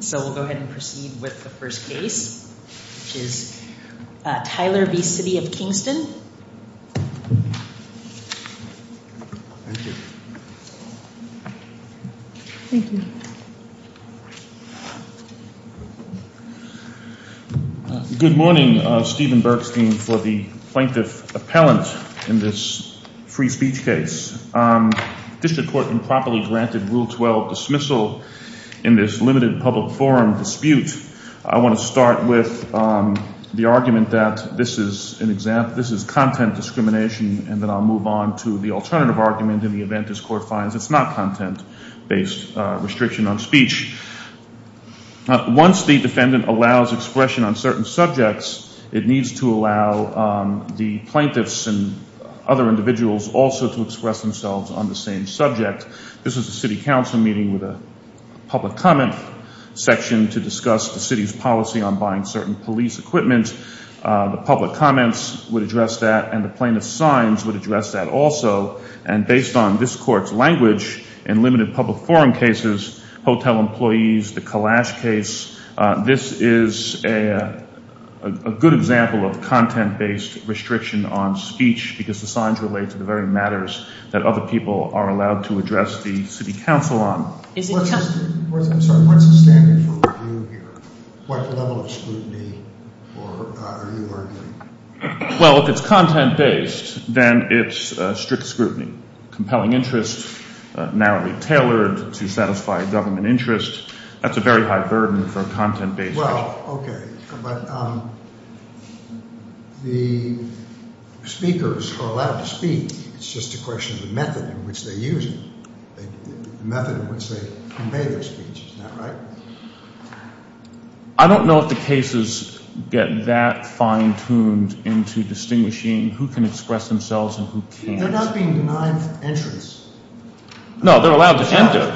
So we'll go ahead and proceed with the first case, which is Tyler v. City of Kingston. Thank you. Thank you. Good morning, Stephen Bergstein, for the plaintiff appellant in this free speech case. District court improperly granted Rule 12 dismissal in this limited public forum dispute. I want to start with the argument that this is content discrimination, and then I'll move on to the alternative argument in the event this court finds it's not content-based restriction on speech. Once the defendant allows expression on certain subjects, it needs to allow the plaintiffs and other individuals also to express themselves on the same subject. This is a city council meeting with a public comment section to discuss the city's policy on buying certain police equipment. The public comments would address that, and the plaintiff's signs would address that also. And based on this court's language, in limited public forum cases, hotel employees, the Kalash case, this is a good example of content-based restriction on speech, because the signs relate to the very matters that other people are allowed to address the city council on. I'm sorry, what's the standard for review here? What level of scrutiny are you arguing? Well, if it's content-based, then it's strict scrutiny. Compelling interest, narrowly tailored to satisfy government interest, that's a very high burden for a content-based restriction. Well, okay, but the speakers are allowed to speak. It's just a question of the method in which they use it, the method in which they convey their speech. Isn't that right? I don't know if the cases get that fine-tuned into distinguishing who can express themselves and who can't. They're not being denied entrance. No, they're allowed to enter.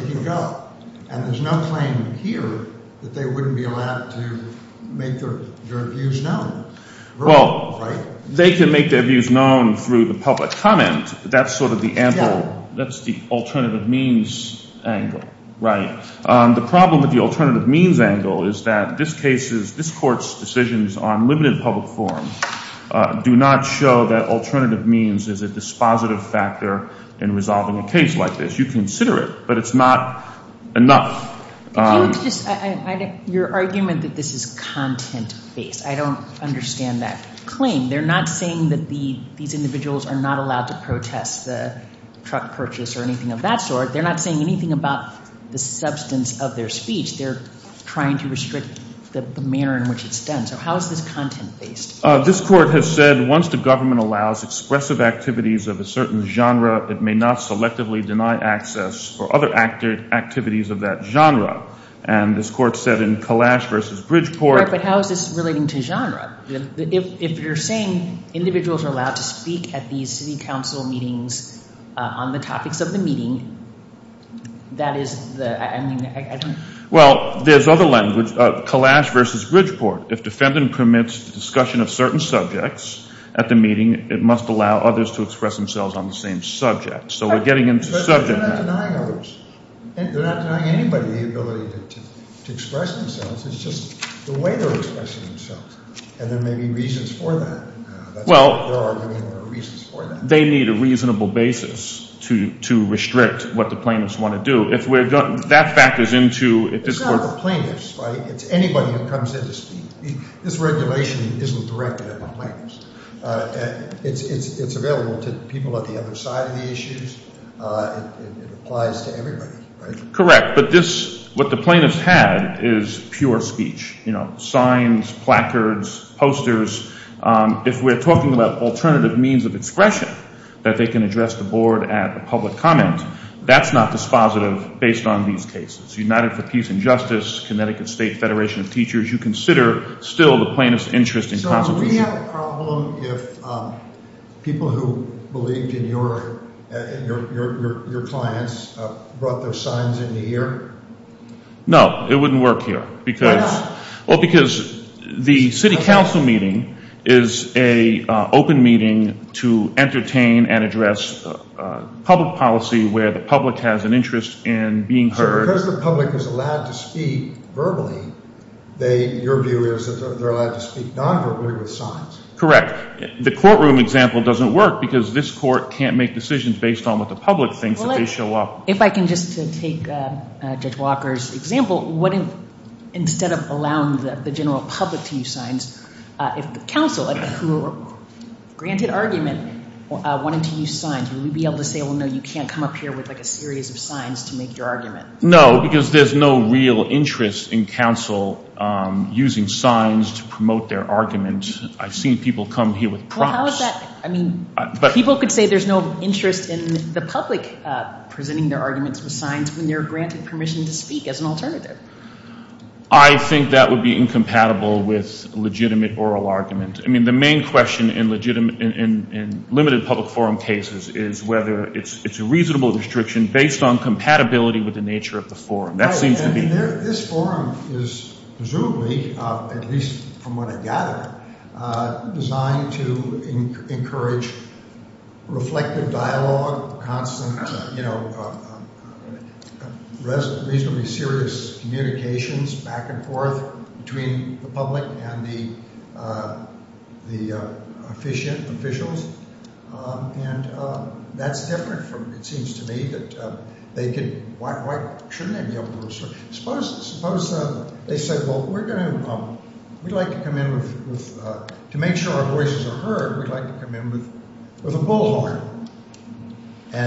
They can go, and there's no claim here that they wouldn't be allowed to make their views known. Well, they can make their views known through the public comment. That's sort of the ample, that's the alternative means angle, right? The problem with the alternative means angle is that this case's, this court's decisions on limited public forums do not show that alternative means is a dispositive factor in resolving a case like this. You consider it, but it's not enough. Your argument that this is content-based, I don't understand that claim. They're not saying that these individuals are not allowed to protest the truck purchase or anything of that sort. They're not saying anything about the substance of their speech. They're trying to restrict the manner in which it's done. So how is this content-based? This court has said once the government allows expressive activities of a certain genre, it may not selectively deny access for other activities of that genre. And this court said in Kalash v. Bridgeport. Right, but how is this relating to genre? If you're saying individuals are allowed to speak at these city council meetings on the topics of the meeting, that is the, I mean, I don't. Well, there's other language, Kalash v. Bridgeport. If defendant permits discussion of certain subjects at the meeting, it must allow others to express themselves on the same subject. So we're getting into subject matter. They're not denying others. They're not denying anybody the ability to express themselves. It's just the way they're expressing themselves. And there may be reasons for that. Well. They're arguing there are reasons for that. They need a reasonable basis to restrict what the plaintiffs want to do. If we're, that factors into. It's not the plaintiffs, right? It's anybody who comes in to speak. This regulation isn't directed at the plaintiffs. It's available to people at the other side of the issues. It applies to everybody, right? Correct. But this, what the plaintiffs had is pure speech, you know, signs, placards, posters. If we're talking about alternative means of expression that they can address the board at a public comment, that's not dispositive based on these cases. United for Peace and Justice, Connecticut State Federation of Teachers, you consider still the plaintiff's interest in constitution. Would we have a problem if people who believed in your clients brought their signs into here? No. It wouldn't work here. Why not? Well, because the city council meeting is an open meeting to entertain and address public policy where the public has an interest in being heard. Because the public is allowed to speak verbally, your view is that they're allowed to speak non-verbally with signs. Correct. The courtroom example doesn't work because this court can't make decisions based on what the public thinks if they show up. If I can just take Judge Walker's example, what if instead of allowing the general public to use signs, if the council who granted argument wanted to use signs, would we be able to say, well, no, you can't come up here with like a series of signs to make your argument? No, because there's no real interest in council using signs to promote their argument. I've seen people come here with props. How is that? I mean, people could say there's no interest in the public presenting their arguments with signs when they're granted permission to speak as an alternative. I think that would be incompatible with legitimate oral argument. I mean, the main question in limited public forum cases is whether it's a reasonable restriction based on compatibility with the nature of the forum. This forum is presumably, at least from what I gather, designed to encourage reflective dialogue, constant reasonably serious communications back and forth between the public and the officials, and that's different from – it seems to me that they could – why shouldn't they be able to – suppose they said, well, we're going to – we'd like to come in with – to make sure our voices are heard, we'd like to come in with a bullhorn.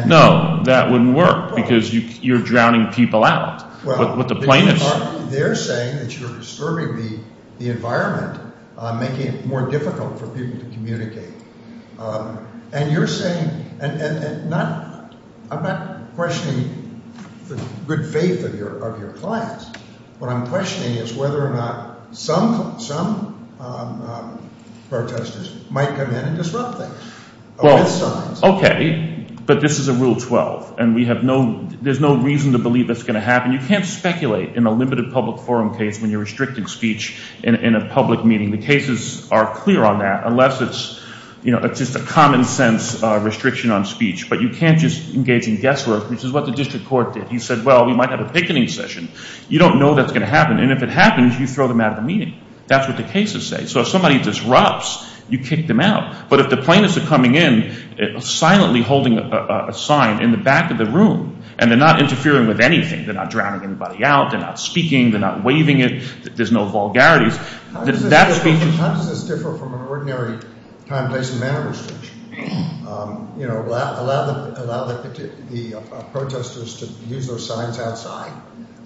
No, that wouldn't work because you're drowning people out with the plaintiffs. They're saying that you're disturbing the environment, making it more difficult for people to communicate, and you're saying – and I'm not questioning the good faith of your clients. What I'm questioning is whether or not some protestors might come in and disrupt things with signs. Okay, but this is a Rule 12, and we have no – there's no reason to believe that's going to happen. You can't speculate in a limited public forum case when you're restricting speech in a public meeting. The cases are clear on that unless it's just a common sense restriction on speech, but you can't just engage in guesswork, which is what the district court did. He said, well, we might have a picketing session. You don't know that's going to happen, and if it happens, you throw them out of the meeting. That's what the cases say. So if somebody disrupts, you kick them out, but if the plaintiffs are coming in silently holding a sign in the back of the room and they're not interfering with anything – they're not drowning anybody out, they're not speaking, they're not waving it, there's no vulgarities – How does this differ from an ordinary time, place, and manner restriction? Allow the protestors to use those signs outside,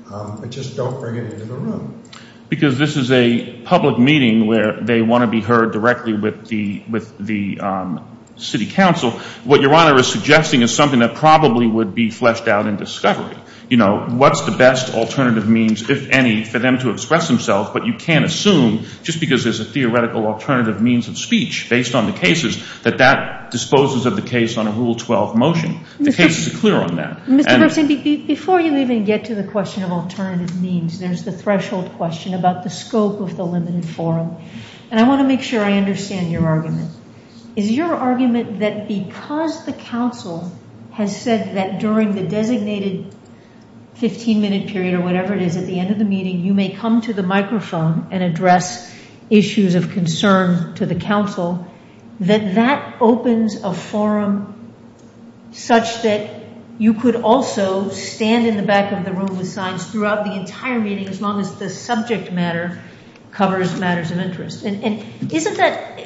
but just don't bring it into the room. Because this is a public meeting where they want to be heard directly with the city council. What Your Honor is suggesting is something that probably would be fleshed out in discovery. What's the best alternative means, if any, for them to express themselves? But you can't assume, just because there's a theoretical alternative means of speech based on the cases, that that disposes of the case on a Rule 12 motion. The cases are clear on that. Before you even get to the question of alternative means, there's the threshold question about the scope of the limited forum. And I want to make sure I understand your argument. Is your argument that because the council has said that during the designated 15-minute period or whatever it is at the end of the meeting, you may come to the microphone and address issues of concern to the council, that that opens a forum such that you could also stand in the back of the room with signs throughout the entire meeting, as long as the subject matter covers matters of interest? And isn't that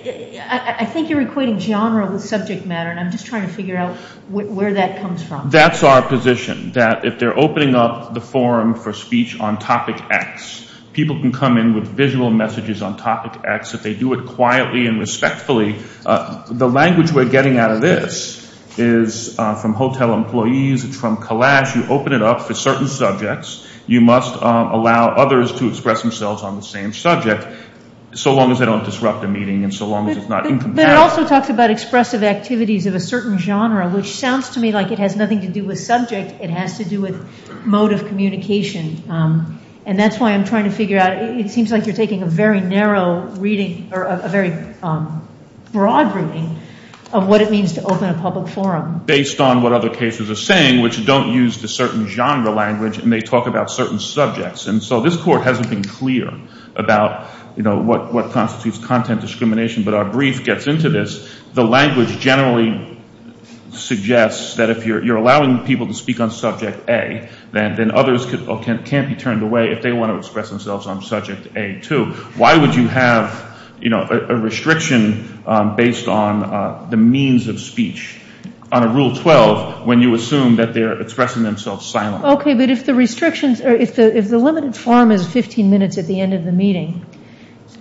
– I think you're equating genre with subject matter, and I'm just trying to figure out where that comes from. That's our position, that if they're opening up the forum for speech on topic X, people can come in with visual messages on topic X if they do it quietly and respectfully. The language we're getting out of this is from hotel employees. It's from Kalash. You open it up for certain subjects. You must allow others to express themselves on the same subject, so long as they don't disrupt the meeting and so long as it's not incompatible. But it also talks about expressive activities of a certain genre, which sounds to me like it has nothing to do with subject. It has to do with mode of communication, and that's why I'm trying to figure out – it seems like you're taking a very narrow reading or a very broad reading of what it means to open a public forum. Based on what other cases are saying, which don't use the certain genre language, and they talk about certain subjects. And so this court hasn't been clear about what constitutes content discrimination, but our brief gets into this. The language generally suggests that if you're allowing people to speak on subject A, then others can't be turned away if they want to express themselves on subject A, too. Why would you have a restriction based on the means of speech on a Rule 12 when you assume that they're expressing themselves silently? Okay, but if the limited forum is 15 minutes at the end of the meeting,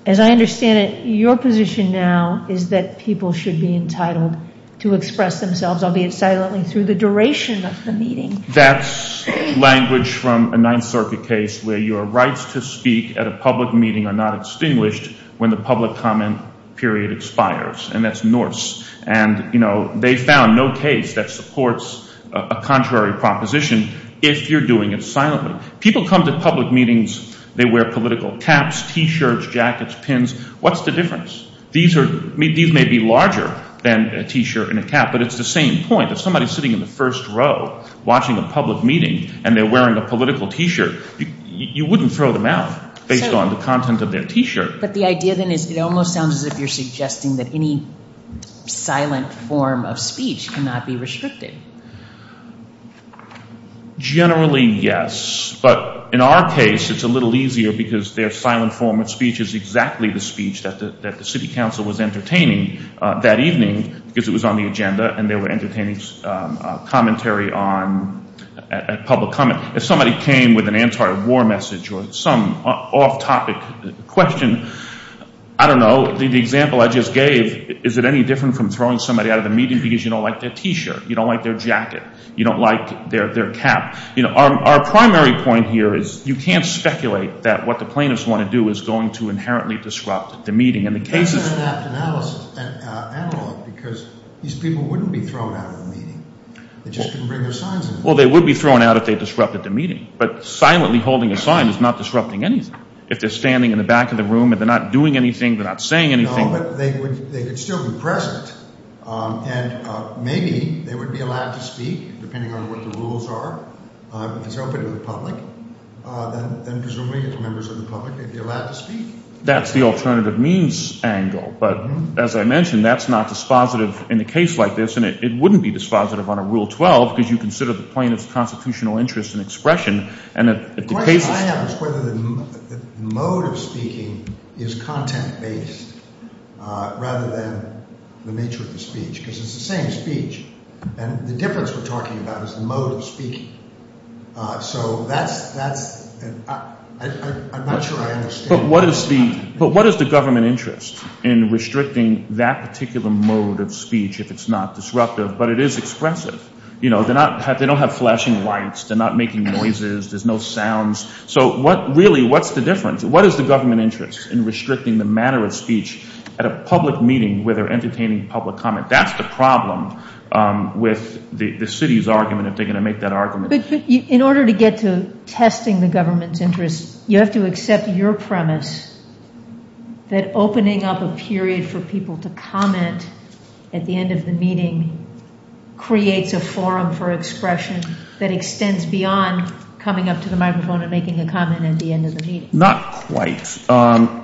as I understand it, your position now is that people should be entitled to express themselves, albeit silently, through the duration of the meeting. That's language from a Ninth Circuit case where your rights to speak at a public meeting are not extinguished when the public comment period expires, and that's Norse. And they found no case that supports a contrary proposition if you're doing it silently. People come to public meetings, they wear political caps, T-shirts, jackets, pins. What's the difference? These may be larger than a T-shirt and a cap, but it's the same point. If somebody is sitting in the first row watching a public meeting and they're wearing a political T-shirt, you wouldn't throw them out based on the content of their T-shirt. But the idea then is it almost sounds as if you're suggesting that any silent form of speech cannot be restricted. Generally, yes. But in our case, it's a little easier because their silent form of speech is exactly the speech that the city council was entertaining that evening because it was on the agenda and they were entertaining commentary on public comment. If somebody came with an anti-war message or some off-topic question, I don't know. The example I just gave, is it any different from throwing somebody out of the meeting because you don't like their T-shirt? You don't like their jacket? You don't like their cap? Our primary point here is you can't speculate that what the plaintiffs want to do is going to inherently disrupt the meeting. And the case is— It's an inapt analysis, an analog, because these people wouldn't be thrown out of the meeting. They just couldn't bring their signs in. Well, they would be thrown out if they disrupted the meeting. But silently holding a sign is not disrupting anything. If they're standing in the back of the room and they're not doing anything, they're not saying anything— No, but they could still be present. And maybe they would be allowed to speak depending on what the rules are. If it's open to the public, then presumably it's members of the public. They'd be allowed to speak. That's the alternative means angle. But as I mentioned, that's not dispositive in a case like this. And it wouldn't be dispositive on a Rule 12 because you consider the plaintiff's constitutional interest in expression. And if the case is— The question I have is whether the mode of speaking is content-based rather than the nature of the speech because it's the same speech. And the difference we're talking about is the mode of speaking. So that's—I'm not sure I understand— But what is the government interest in restricting that particular mode of speech if it's not disruptive? But it is expressive. They don't have flashing lights. They're not making noises. There's no sounds. So really what's the difference? What is the government interest in restricting the manner of speech at a public meeting where they're entertaining public comment? That's the problem with the city's argument if they're going to make that argument. In order to get to testing the government's interest, you have to accept your premise that opening up a period for people to comment at the end of the meeting creates a forum for expression that extends beyond coming up to the microphone and making a comment at the end of the meeting. Not quite.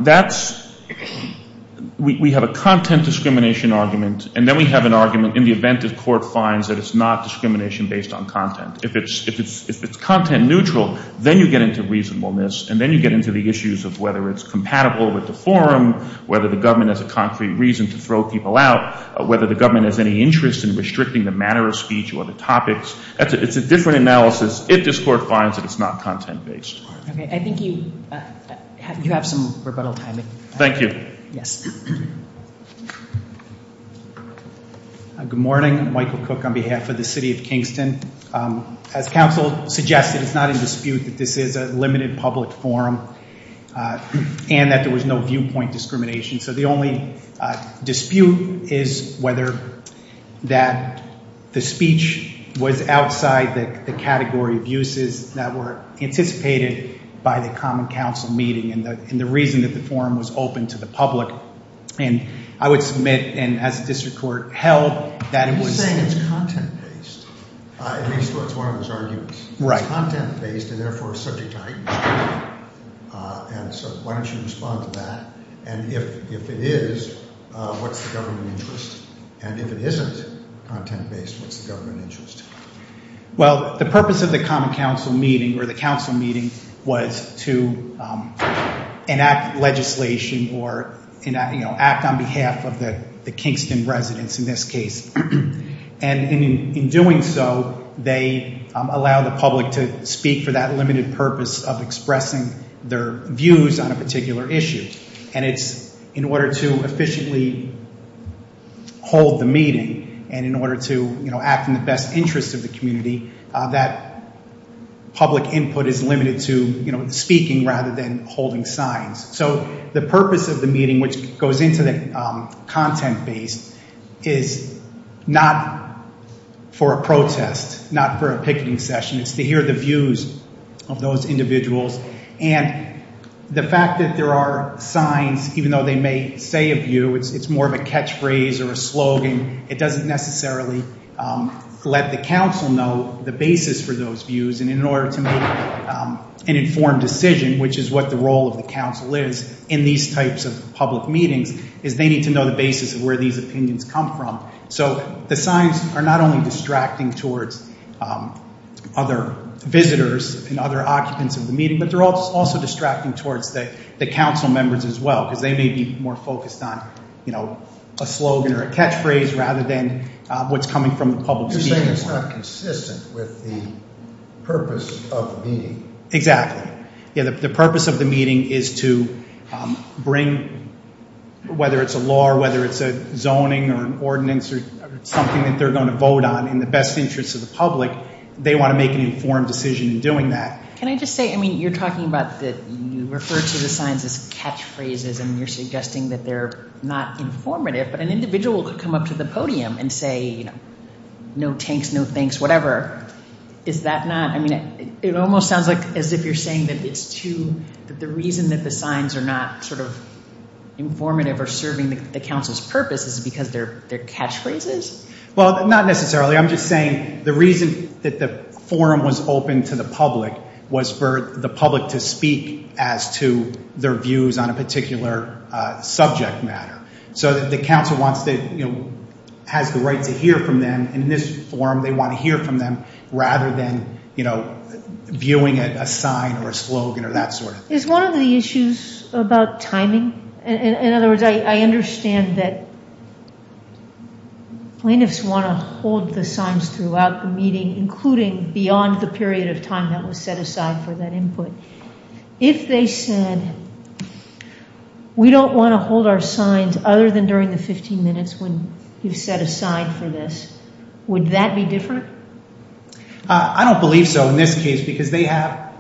That's—we have a content discrimination argument, and then we have an argument in the event the court finds that it's not discrimination based on content. If it's content neutral, then you get into reasonableness, and then you get into the issues of whether it's compatible with the forum, whether the government has a concrete reason to throw people out, whether the government has any interest in restricting the manner of speech or the topics. It's a different analysis if this court finds that it's not content-based. Okay. I think you have some rebuttal time. Thank you. Yes. Good morning. Michael Cook on behalf of the city of Kingston. As counsel suggested, it's not in dispute that this is a limited public forum and that there was no viewpoint discrimination. So the only dispute is whether that the speech was outside the category of uses that were anticipated by the Common Council meeting and the reason that the forum was open to the public. And I would submit, and as the district court held, that it was— You're saying it's content-based, at least that's what one of us argued. Right. It's content-based and, therefore, subject to item screening. And so why don't you respond to that? And if it is, what's the government interest? And if it isn't content-based, what's the government interest? Well, the purpose of the Common Council meeting or the council meeting was to enact legislation or act on behalf of the Kingston residents in this case. And in doing so, they allow the public to speak for that limited purpose of expressing their views on a particular issue. And it's in order to efficiently hold the meeting and in order to act in the best interest of the community, that public input is limited to speaking rather than holding signs. So the purpose of the meeting, which goes into the content-based, is not for a protest, not for a picketing session. It's to hear the views of those individuals. And the fact that there are signs, even though they may say a view, it's more of a catchphrase or a slogan. It doesn't necessarily let the council know the basis for those views. And in order to make an informed decision, which is what the role of the council is in these types of public meetings, is they need to know the basis of where these opinions come from. So the signs are not only distracting towards other visitors and other occupants of the meeting, but they're also distracting towards the council members as well. Because they may be more focused on a slogan or a catchphrase rather than what's coming from the public speaking. You're saying it's not consistent with the purpose of the meeting. Something that they're going to vote on in the best interest of the public, they want to make an informed decision in doing that. Can I just say, I mean, you're talking about that you refer to the signs as catchphrases and you're suggesting that they're not informative. But an individual could come up to the podium and say, you know, no tanks, no thanks, whatever. Is that not, I mean, it almost sounds like as if you're saying that it's too, that the reason that the signs are not sort of informative or serving the council's purpose is because they're catchphrases? Well, not necessarily. I'm just saying the reason that the forum was open to the public was for the public to speak as to their views on a particular subject matter. So that the council wants to, you know, has the right to hear from them in this forum. They want to hear from them rather than, you know, viewing it a sign or a slogan or that sort of thing. Is one of the issues about timing? In other words, I understand that plaintiffs want to hold the signs throughout the meeting, including beyond the period of time that was set aside for that input. If they said we don't want to hold our signs other than during the 15 minutes when you've set aside for this, would that be different? I don't believe so in this case because they have,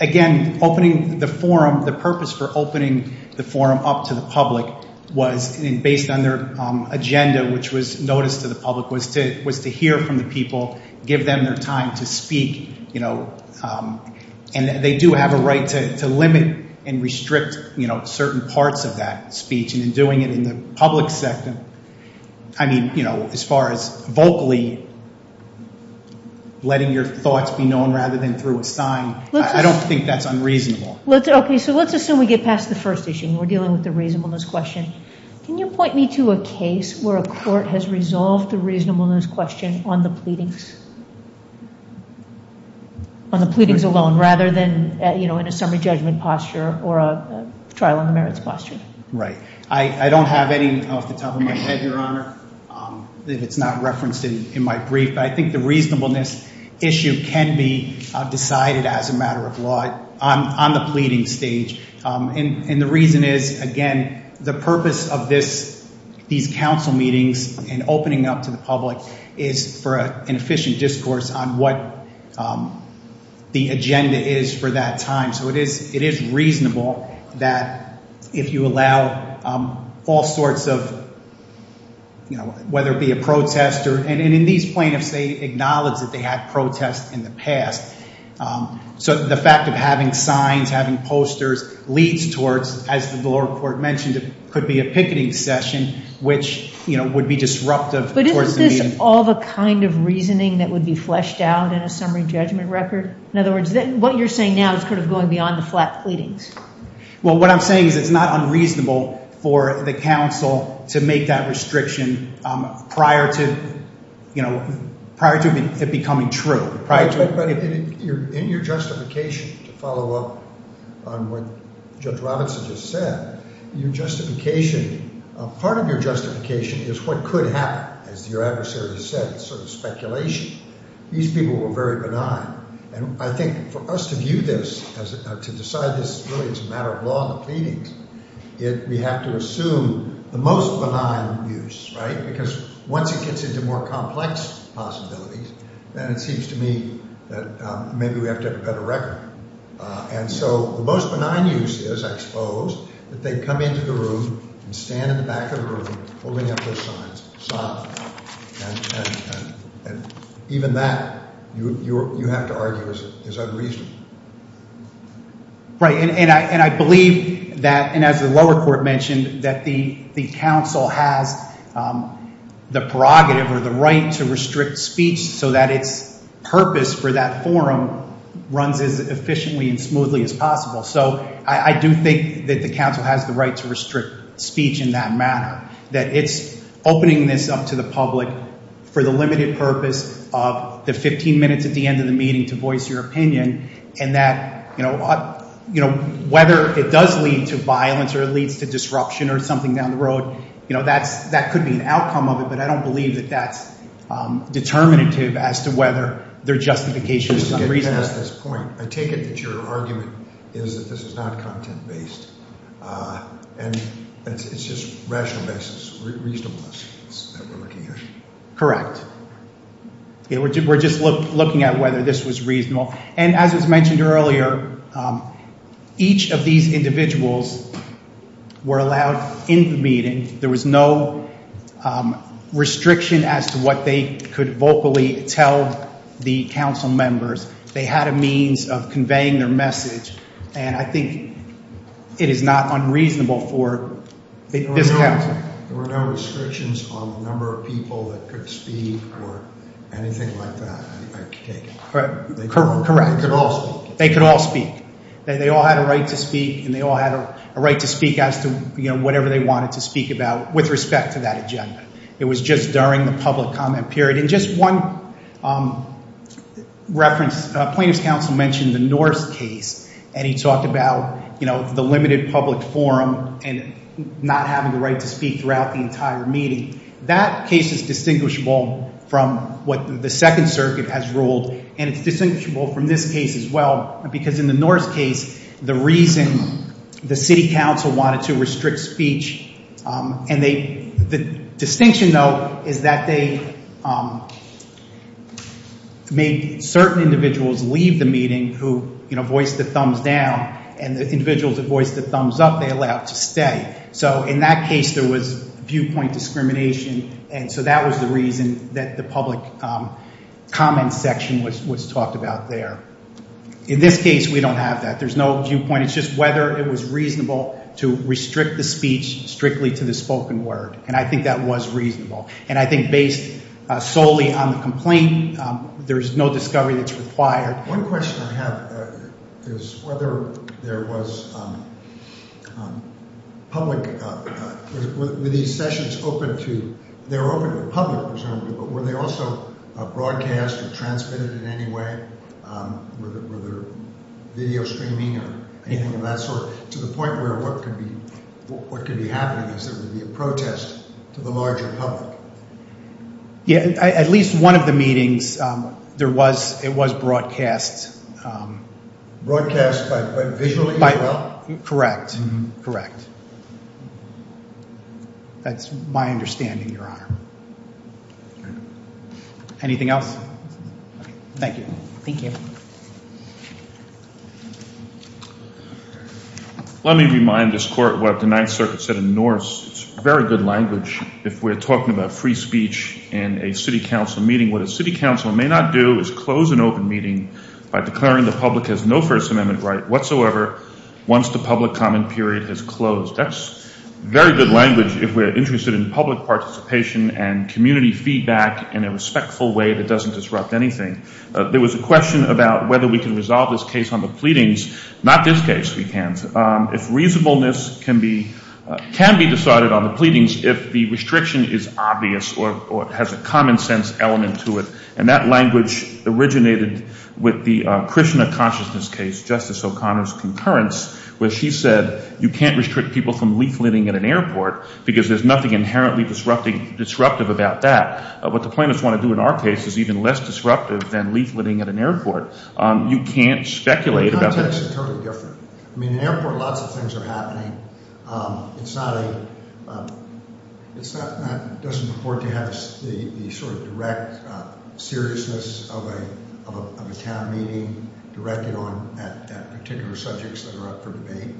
again, opening the forum, the purpose for opening the forum up to the public was based on their agenda, which was noticed to the public, was to hear from the people, give them their time to speak, you know. And they do have a right to limit and restrict, you know, certain parts of that speech. And in doing it in the public sector, I mean, you know, as far as vocally letting your thoughts be known rather than through a sign, I don't think that's unreasonable. Okay, so let's assume we get past the first issue and we're dealing with the reasonableness question. Can you point me to a case where a court has resolved the reasonableness question on the pleadings, on the pleadings alone, rather than, you know, in a summary judgment posture or a trial on the merits posture? Right. I don't have any off the top of my head, Your Honor, if it's not referenced in my brief. But I think the reasonableness issue can be decided as a matter of law on the pleading stage. And the reason is, again, the purpose of these council meetings and opening up to the public is for an efficient discourse on what the agenda is for that time. So it is reasonable that if you allow all sorts of, you know, whether it be a protest, and in these plaintiffs, they acknowledge that they had protests in the past. So the fact of having signs, having posters leads towards, as the lower court mentioned, it could be a picketing session, which, you know, would be disruptive. But isn't this all the kind of reasoning that would be fleshed out in a summary judgment record? In other words, what you're saying now is sort of going beyond the flat pleadings. Well, what I'm saying is it's not unreasonable for the council to make that restriction prior to, you know, prior to it becoming true. Prior to it becoming true. In your justification, to follow up on what Judge Robinson just said, your justification, part of your justification is what could happen. As your adversary said, it's sort of speculation. These people were very benign. And I think for us to view this, to decide this really as a matter of law on the pleadings, we have to assume the most benign views, right? Because once it gets into more complex possibilities, then it seems to me that maybe we have to have a better record. And so the most benign use is, I suppose, that they come into the room and stand in the back of the room holding up those signs. And even that, you have to argue, is unreasonable. Right. And I believe that, and as the lower court mentioned, that the council has the prerogative or the right to restrict speech so that its purpose for that forum runs as efficiently and smoothly as possible. So I do think that the council has the right to restrict speech in that manner. That it's opening this up to the public for the limited purpose of the 15 minutes at the end of the meeting to voice your opinion. And that, you know, whether it does lead to violence or it leads to disruption or something down the road, you know, that could be an outcome of it. But I don't believe that that's determinative as to whether their justification is unreasonable. I take it that your argument is that this is not content-based and it's just rational basis, reasonableness that we're looking at. Correct. We're just looking at whether this was reasonable. And as was mentioned earlier, each of these individuals were allowed in the meeting. There was no restriction as to what they could vocally tell the council members. They had a means of conveying their message. And I think it is not unreasonable for this council. There were no restrictions on the number of people that could speak or anything like that, I take it. Correct. They could all speak. They could all speak. They all had a right to speak, and they all had a right to speak as to, you know, whatever they wanted to speak about with respect to that agenda. It was just during the public comment period. And just one reference, plaintiff's counsel mentioned the Norse case, and he talked about, you know, the limited public forum and not having the right to speak throughout the entire meeting. That case is distinguishable from what the Second Circuit has ruled, and it's distinguishable from this case as well. Because in the Norse case, the reason the city council wanted to restrict speech, and the distinction, though, is that they made certain individuals leave the meeting who, you know, voiced the thumbs down. And the individuals that voiced the thumbs up, they allowed to stay. So in that case, there was viewpoint discrimination. And so that was the reason that the public comment section was talked about there. In this case, we don't have that. There's no viewpoint. It's just whether it was reasonable to restrict the speech strictly to the spoken word, and I think that was reasonable. And I think based solely on the complaint, there's no discovery that's required. One question I have is whether there was public – were these sessions open to – they were open to the public, presumably, but were they also broadcast or transmitted in any way? Were there video streaming or anything of that sort to the point where what could be happening is there would be a protest to the larger public? Yeah, at least one of the meetings, there was – it was broadcast. Broadcast but visually as well? Correct. Correct. That's my understanding, Your Honor. Anything else? Thank you. Thank you. Let me remind this court what the Ninth Circuit said in Norris. It's very good language if we're talking about free speech in a city council meeting. What a city council may not do is close an open meeting by declaring the public has no First Amendment right whatsoever once the public comment period has closed. That's very good language if we're interested in public participation and community feedback in a respectful way that doesn't disrupt anything. There was a question about whether we can resolve this case on the pleadings. Not this case we can't. If reasonableness can be – can be decided on the pleadings if the restriction is obvious or has a common sense element to it. And that language originated with the Krishna consciousness case, Justice O'Connor's concurrence, where she said you can't restrict people from leafleting at an airport because there's nothing inherently disruptive about that. What the plaintiffs want to do in our case is even less disruptive than leafleting at an airport. You can't speculate about that. The context is totally different. I mean, in an airport, lots of things are happening. It's not a – it's not – doesn't afford to have the sort of direct seriousness of a town meeting directed on at particular subjects that are up for debate.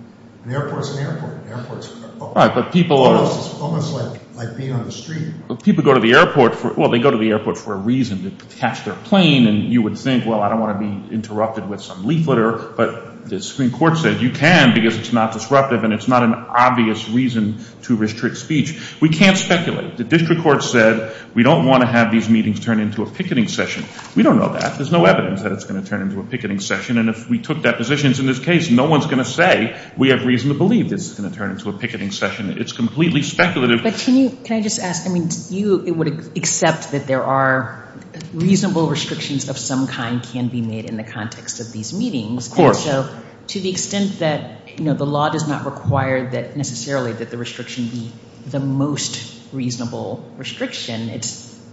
An airport's an airport. An airport's almost like being on the street. People go to the airport for – well, they go to the airport for a reason, to catch their plane, and you would think, well, I don't want to be interrupted with some leafleter. But the Supreme Court said you can because it's not disruptive and it's not an obvious reason to restrict speech. We can't speculate. The district court said we don't want to have these meetings turn into a picketing session. We don't know that. There's no evidence that it's going to turn into a picketing session. And if we took that position in this case, no one's going to say we have reason to believe this is going to turn into a picketing session. It's completely speculative. But can you – can I just ask – I mean, you would accept that there are reasonable restrictions of some kind can be made in the context of these meetings. Of course. And so to the extent that the law does not require that necessarily that the restriction be the most reasonable restriction, it's –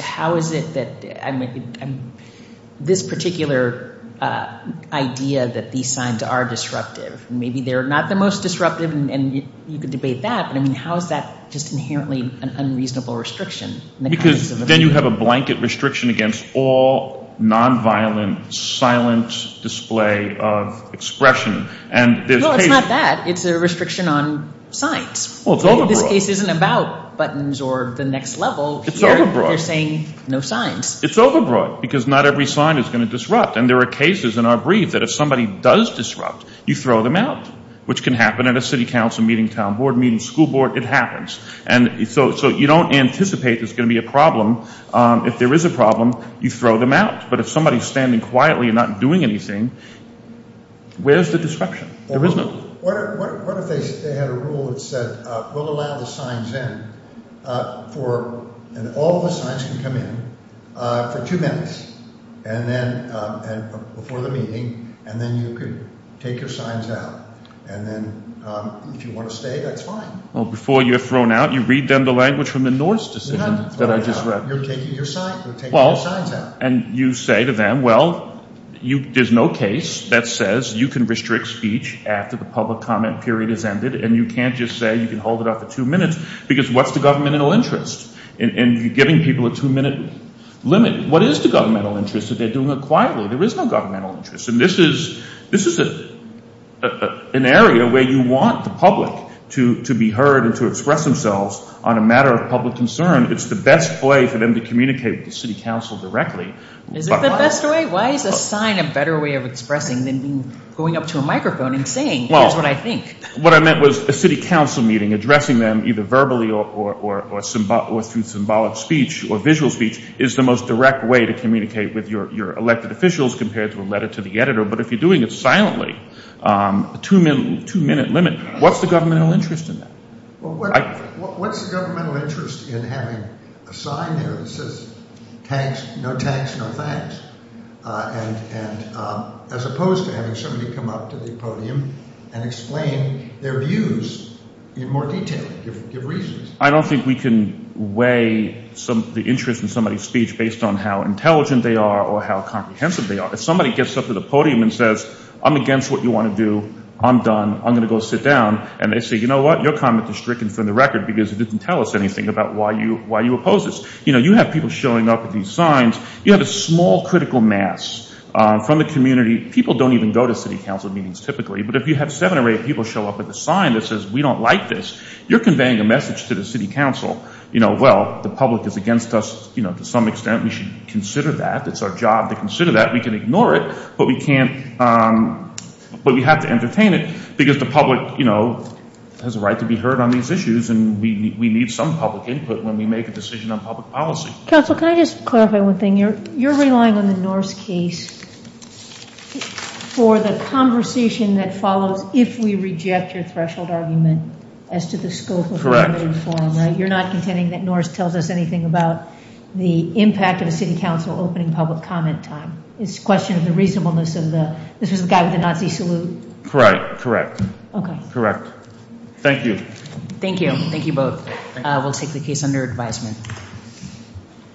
how is it that – I mean, this particular idea that these signs are disruptive, maybe they're not the most disruptive, and you could debate that. I mean, how is that just inherently an unreasonable restriction in the context of a meeting? Because then you have a blanket restriction against all nonviolent, silent display of expression. And there's cases – No, it's not that. It's a restriction on signs. Well, it's overbroad. This case isn't about buttons or the next level. It's overbroad. Here they're saying no signs. It's overbroad because not every sign is going to disrupt. And there are cases in our brief that if somebody does disrupt, you throw them out, which can happen at a city council meeting, town board meeting, school board. It happens. And so you don't anticipate there's going to be a problem. If there is a problem, you throw them out. But if somebody's standing quietly and not doing anything, where's the disruption? There is no – What if they had a rule that said we'll allow the signs in for – and all the signs can come in for two minutes before the meeting, and then you could take your signs out. And then if you want to stay, that's fine. Well, before you're thrown out, you read them the language from the Norse decision that I just read. You're not throwing them out. You're taking your signs out. And you say to them, well, there's no case that says you can restrict speech after the public comment period has ended. And you can't just say you can hold it up for two minutes because what's the governmental interest? And you're giving people a two-minute limit. What is the governmental interest if they're doing it quietly? There is no governmental interest. And this is an area where you want the public to be heard and to express themselves on a matter of public concern. It's the best way for them to communicate with the city council directly. Is it the best way? Why is a sign a better way of expressing than going up to a microphone and saying, here's what I think? What I meant was a city council meeting, addressing them either verbally or through symbolic speech or visual speech, is the most direct way to communicate with your elected officials compared to a letter to the editor. But if you're doing it silently, a two-minute limit, what's the governmental interest in that? What's the governmental interest in having a sign there that says no tax, no thanks, as opposed to having somebody come up to the podium and explain their views in more detail, give reasons? I don't think we can weigh the interest in somebody's speech based on how intelligent they are or how comprehensive they are. If somebody gets up to the podium and says, I'm against what you want to do. I'm done. I'm going to go sit down. And they say, you know what? Your comment is stricken from the record because it didn't tell us anything about why you oppose this. You have people showing up with these signs. You have a small critical mass from the community. People don't even go to city council meetings typically. But if you have seven or eight people show up with a sign that says we don't like this, you're conveying a message to the city council. Well, the public is against us to some extent. We should consider that. It's our job to consider that. We can ignore it, but we can't ‑‑ but we have to entertain it because the public, you know, has a right to be heard on these issues. And we need some public input when we make a decision on public policy. Council, can I just clarify one thing? You're relying on the Norse case for the conversation that follows if we reject your threshold argument as to the scope of the debate. Correct. You're not contending that Norse tells us anything about the impact of a city council opening public comment time. It's a question of the reasonableness of the ‑‑ this was the guy with the Nazi salute. Correct. Correct. Okay. Correct. Thank you. Thank you. Thank you both. We'll take the case under advisement.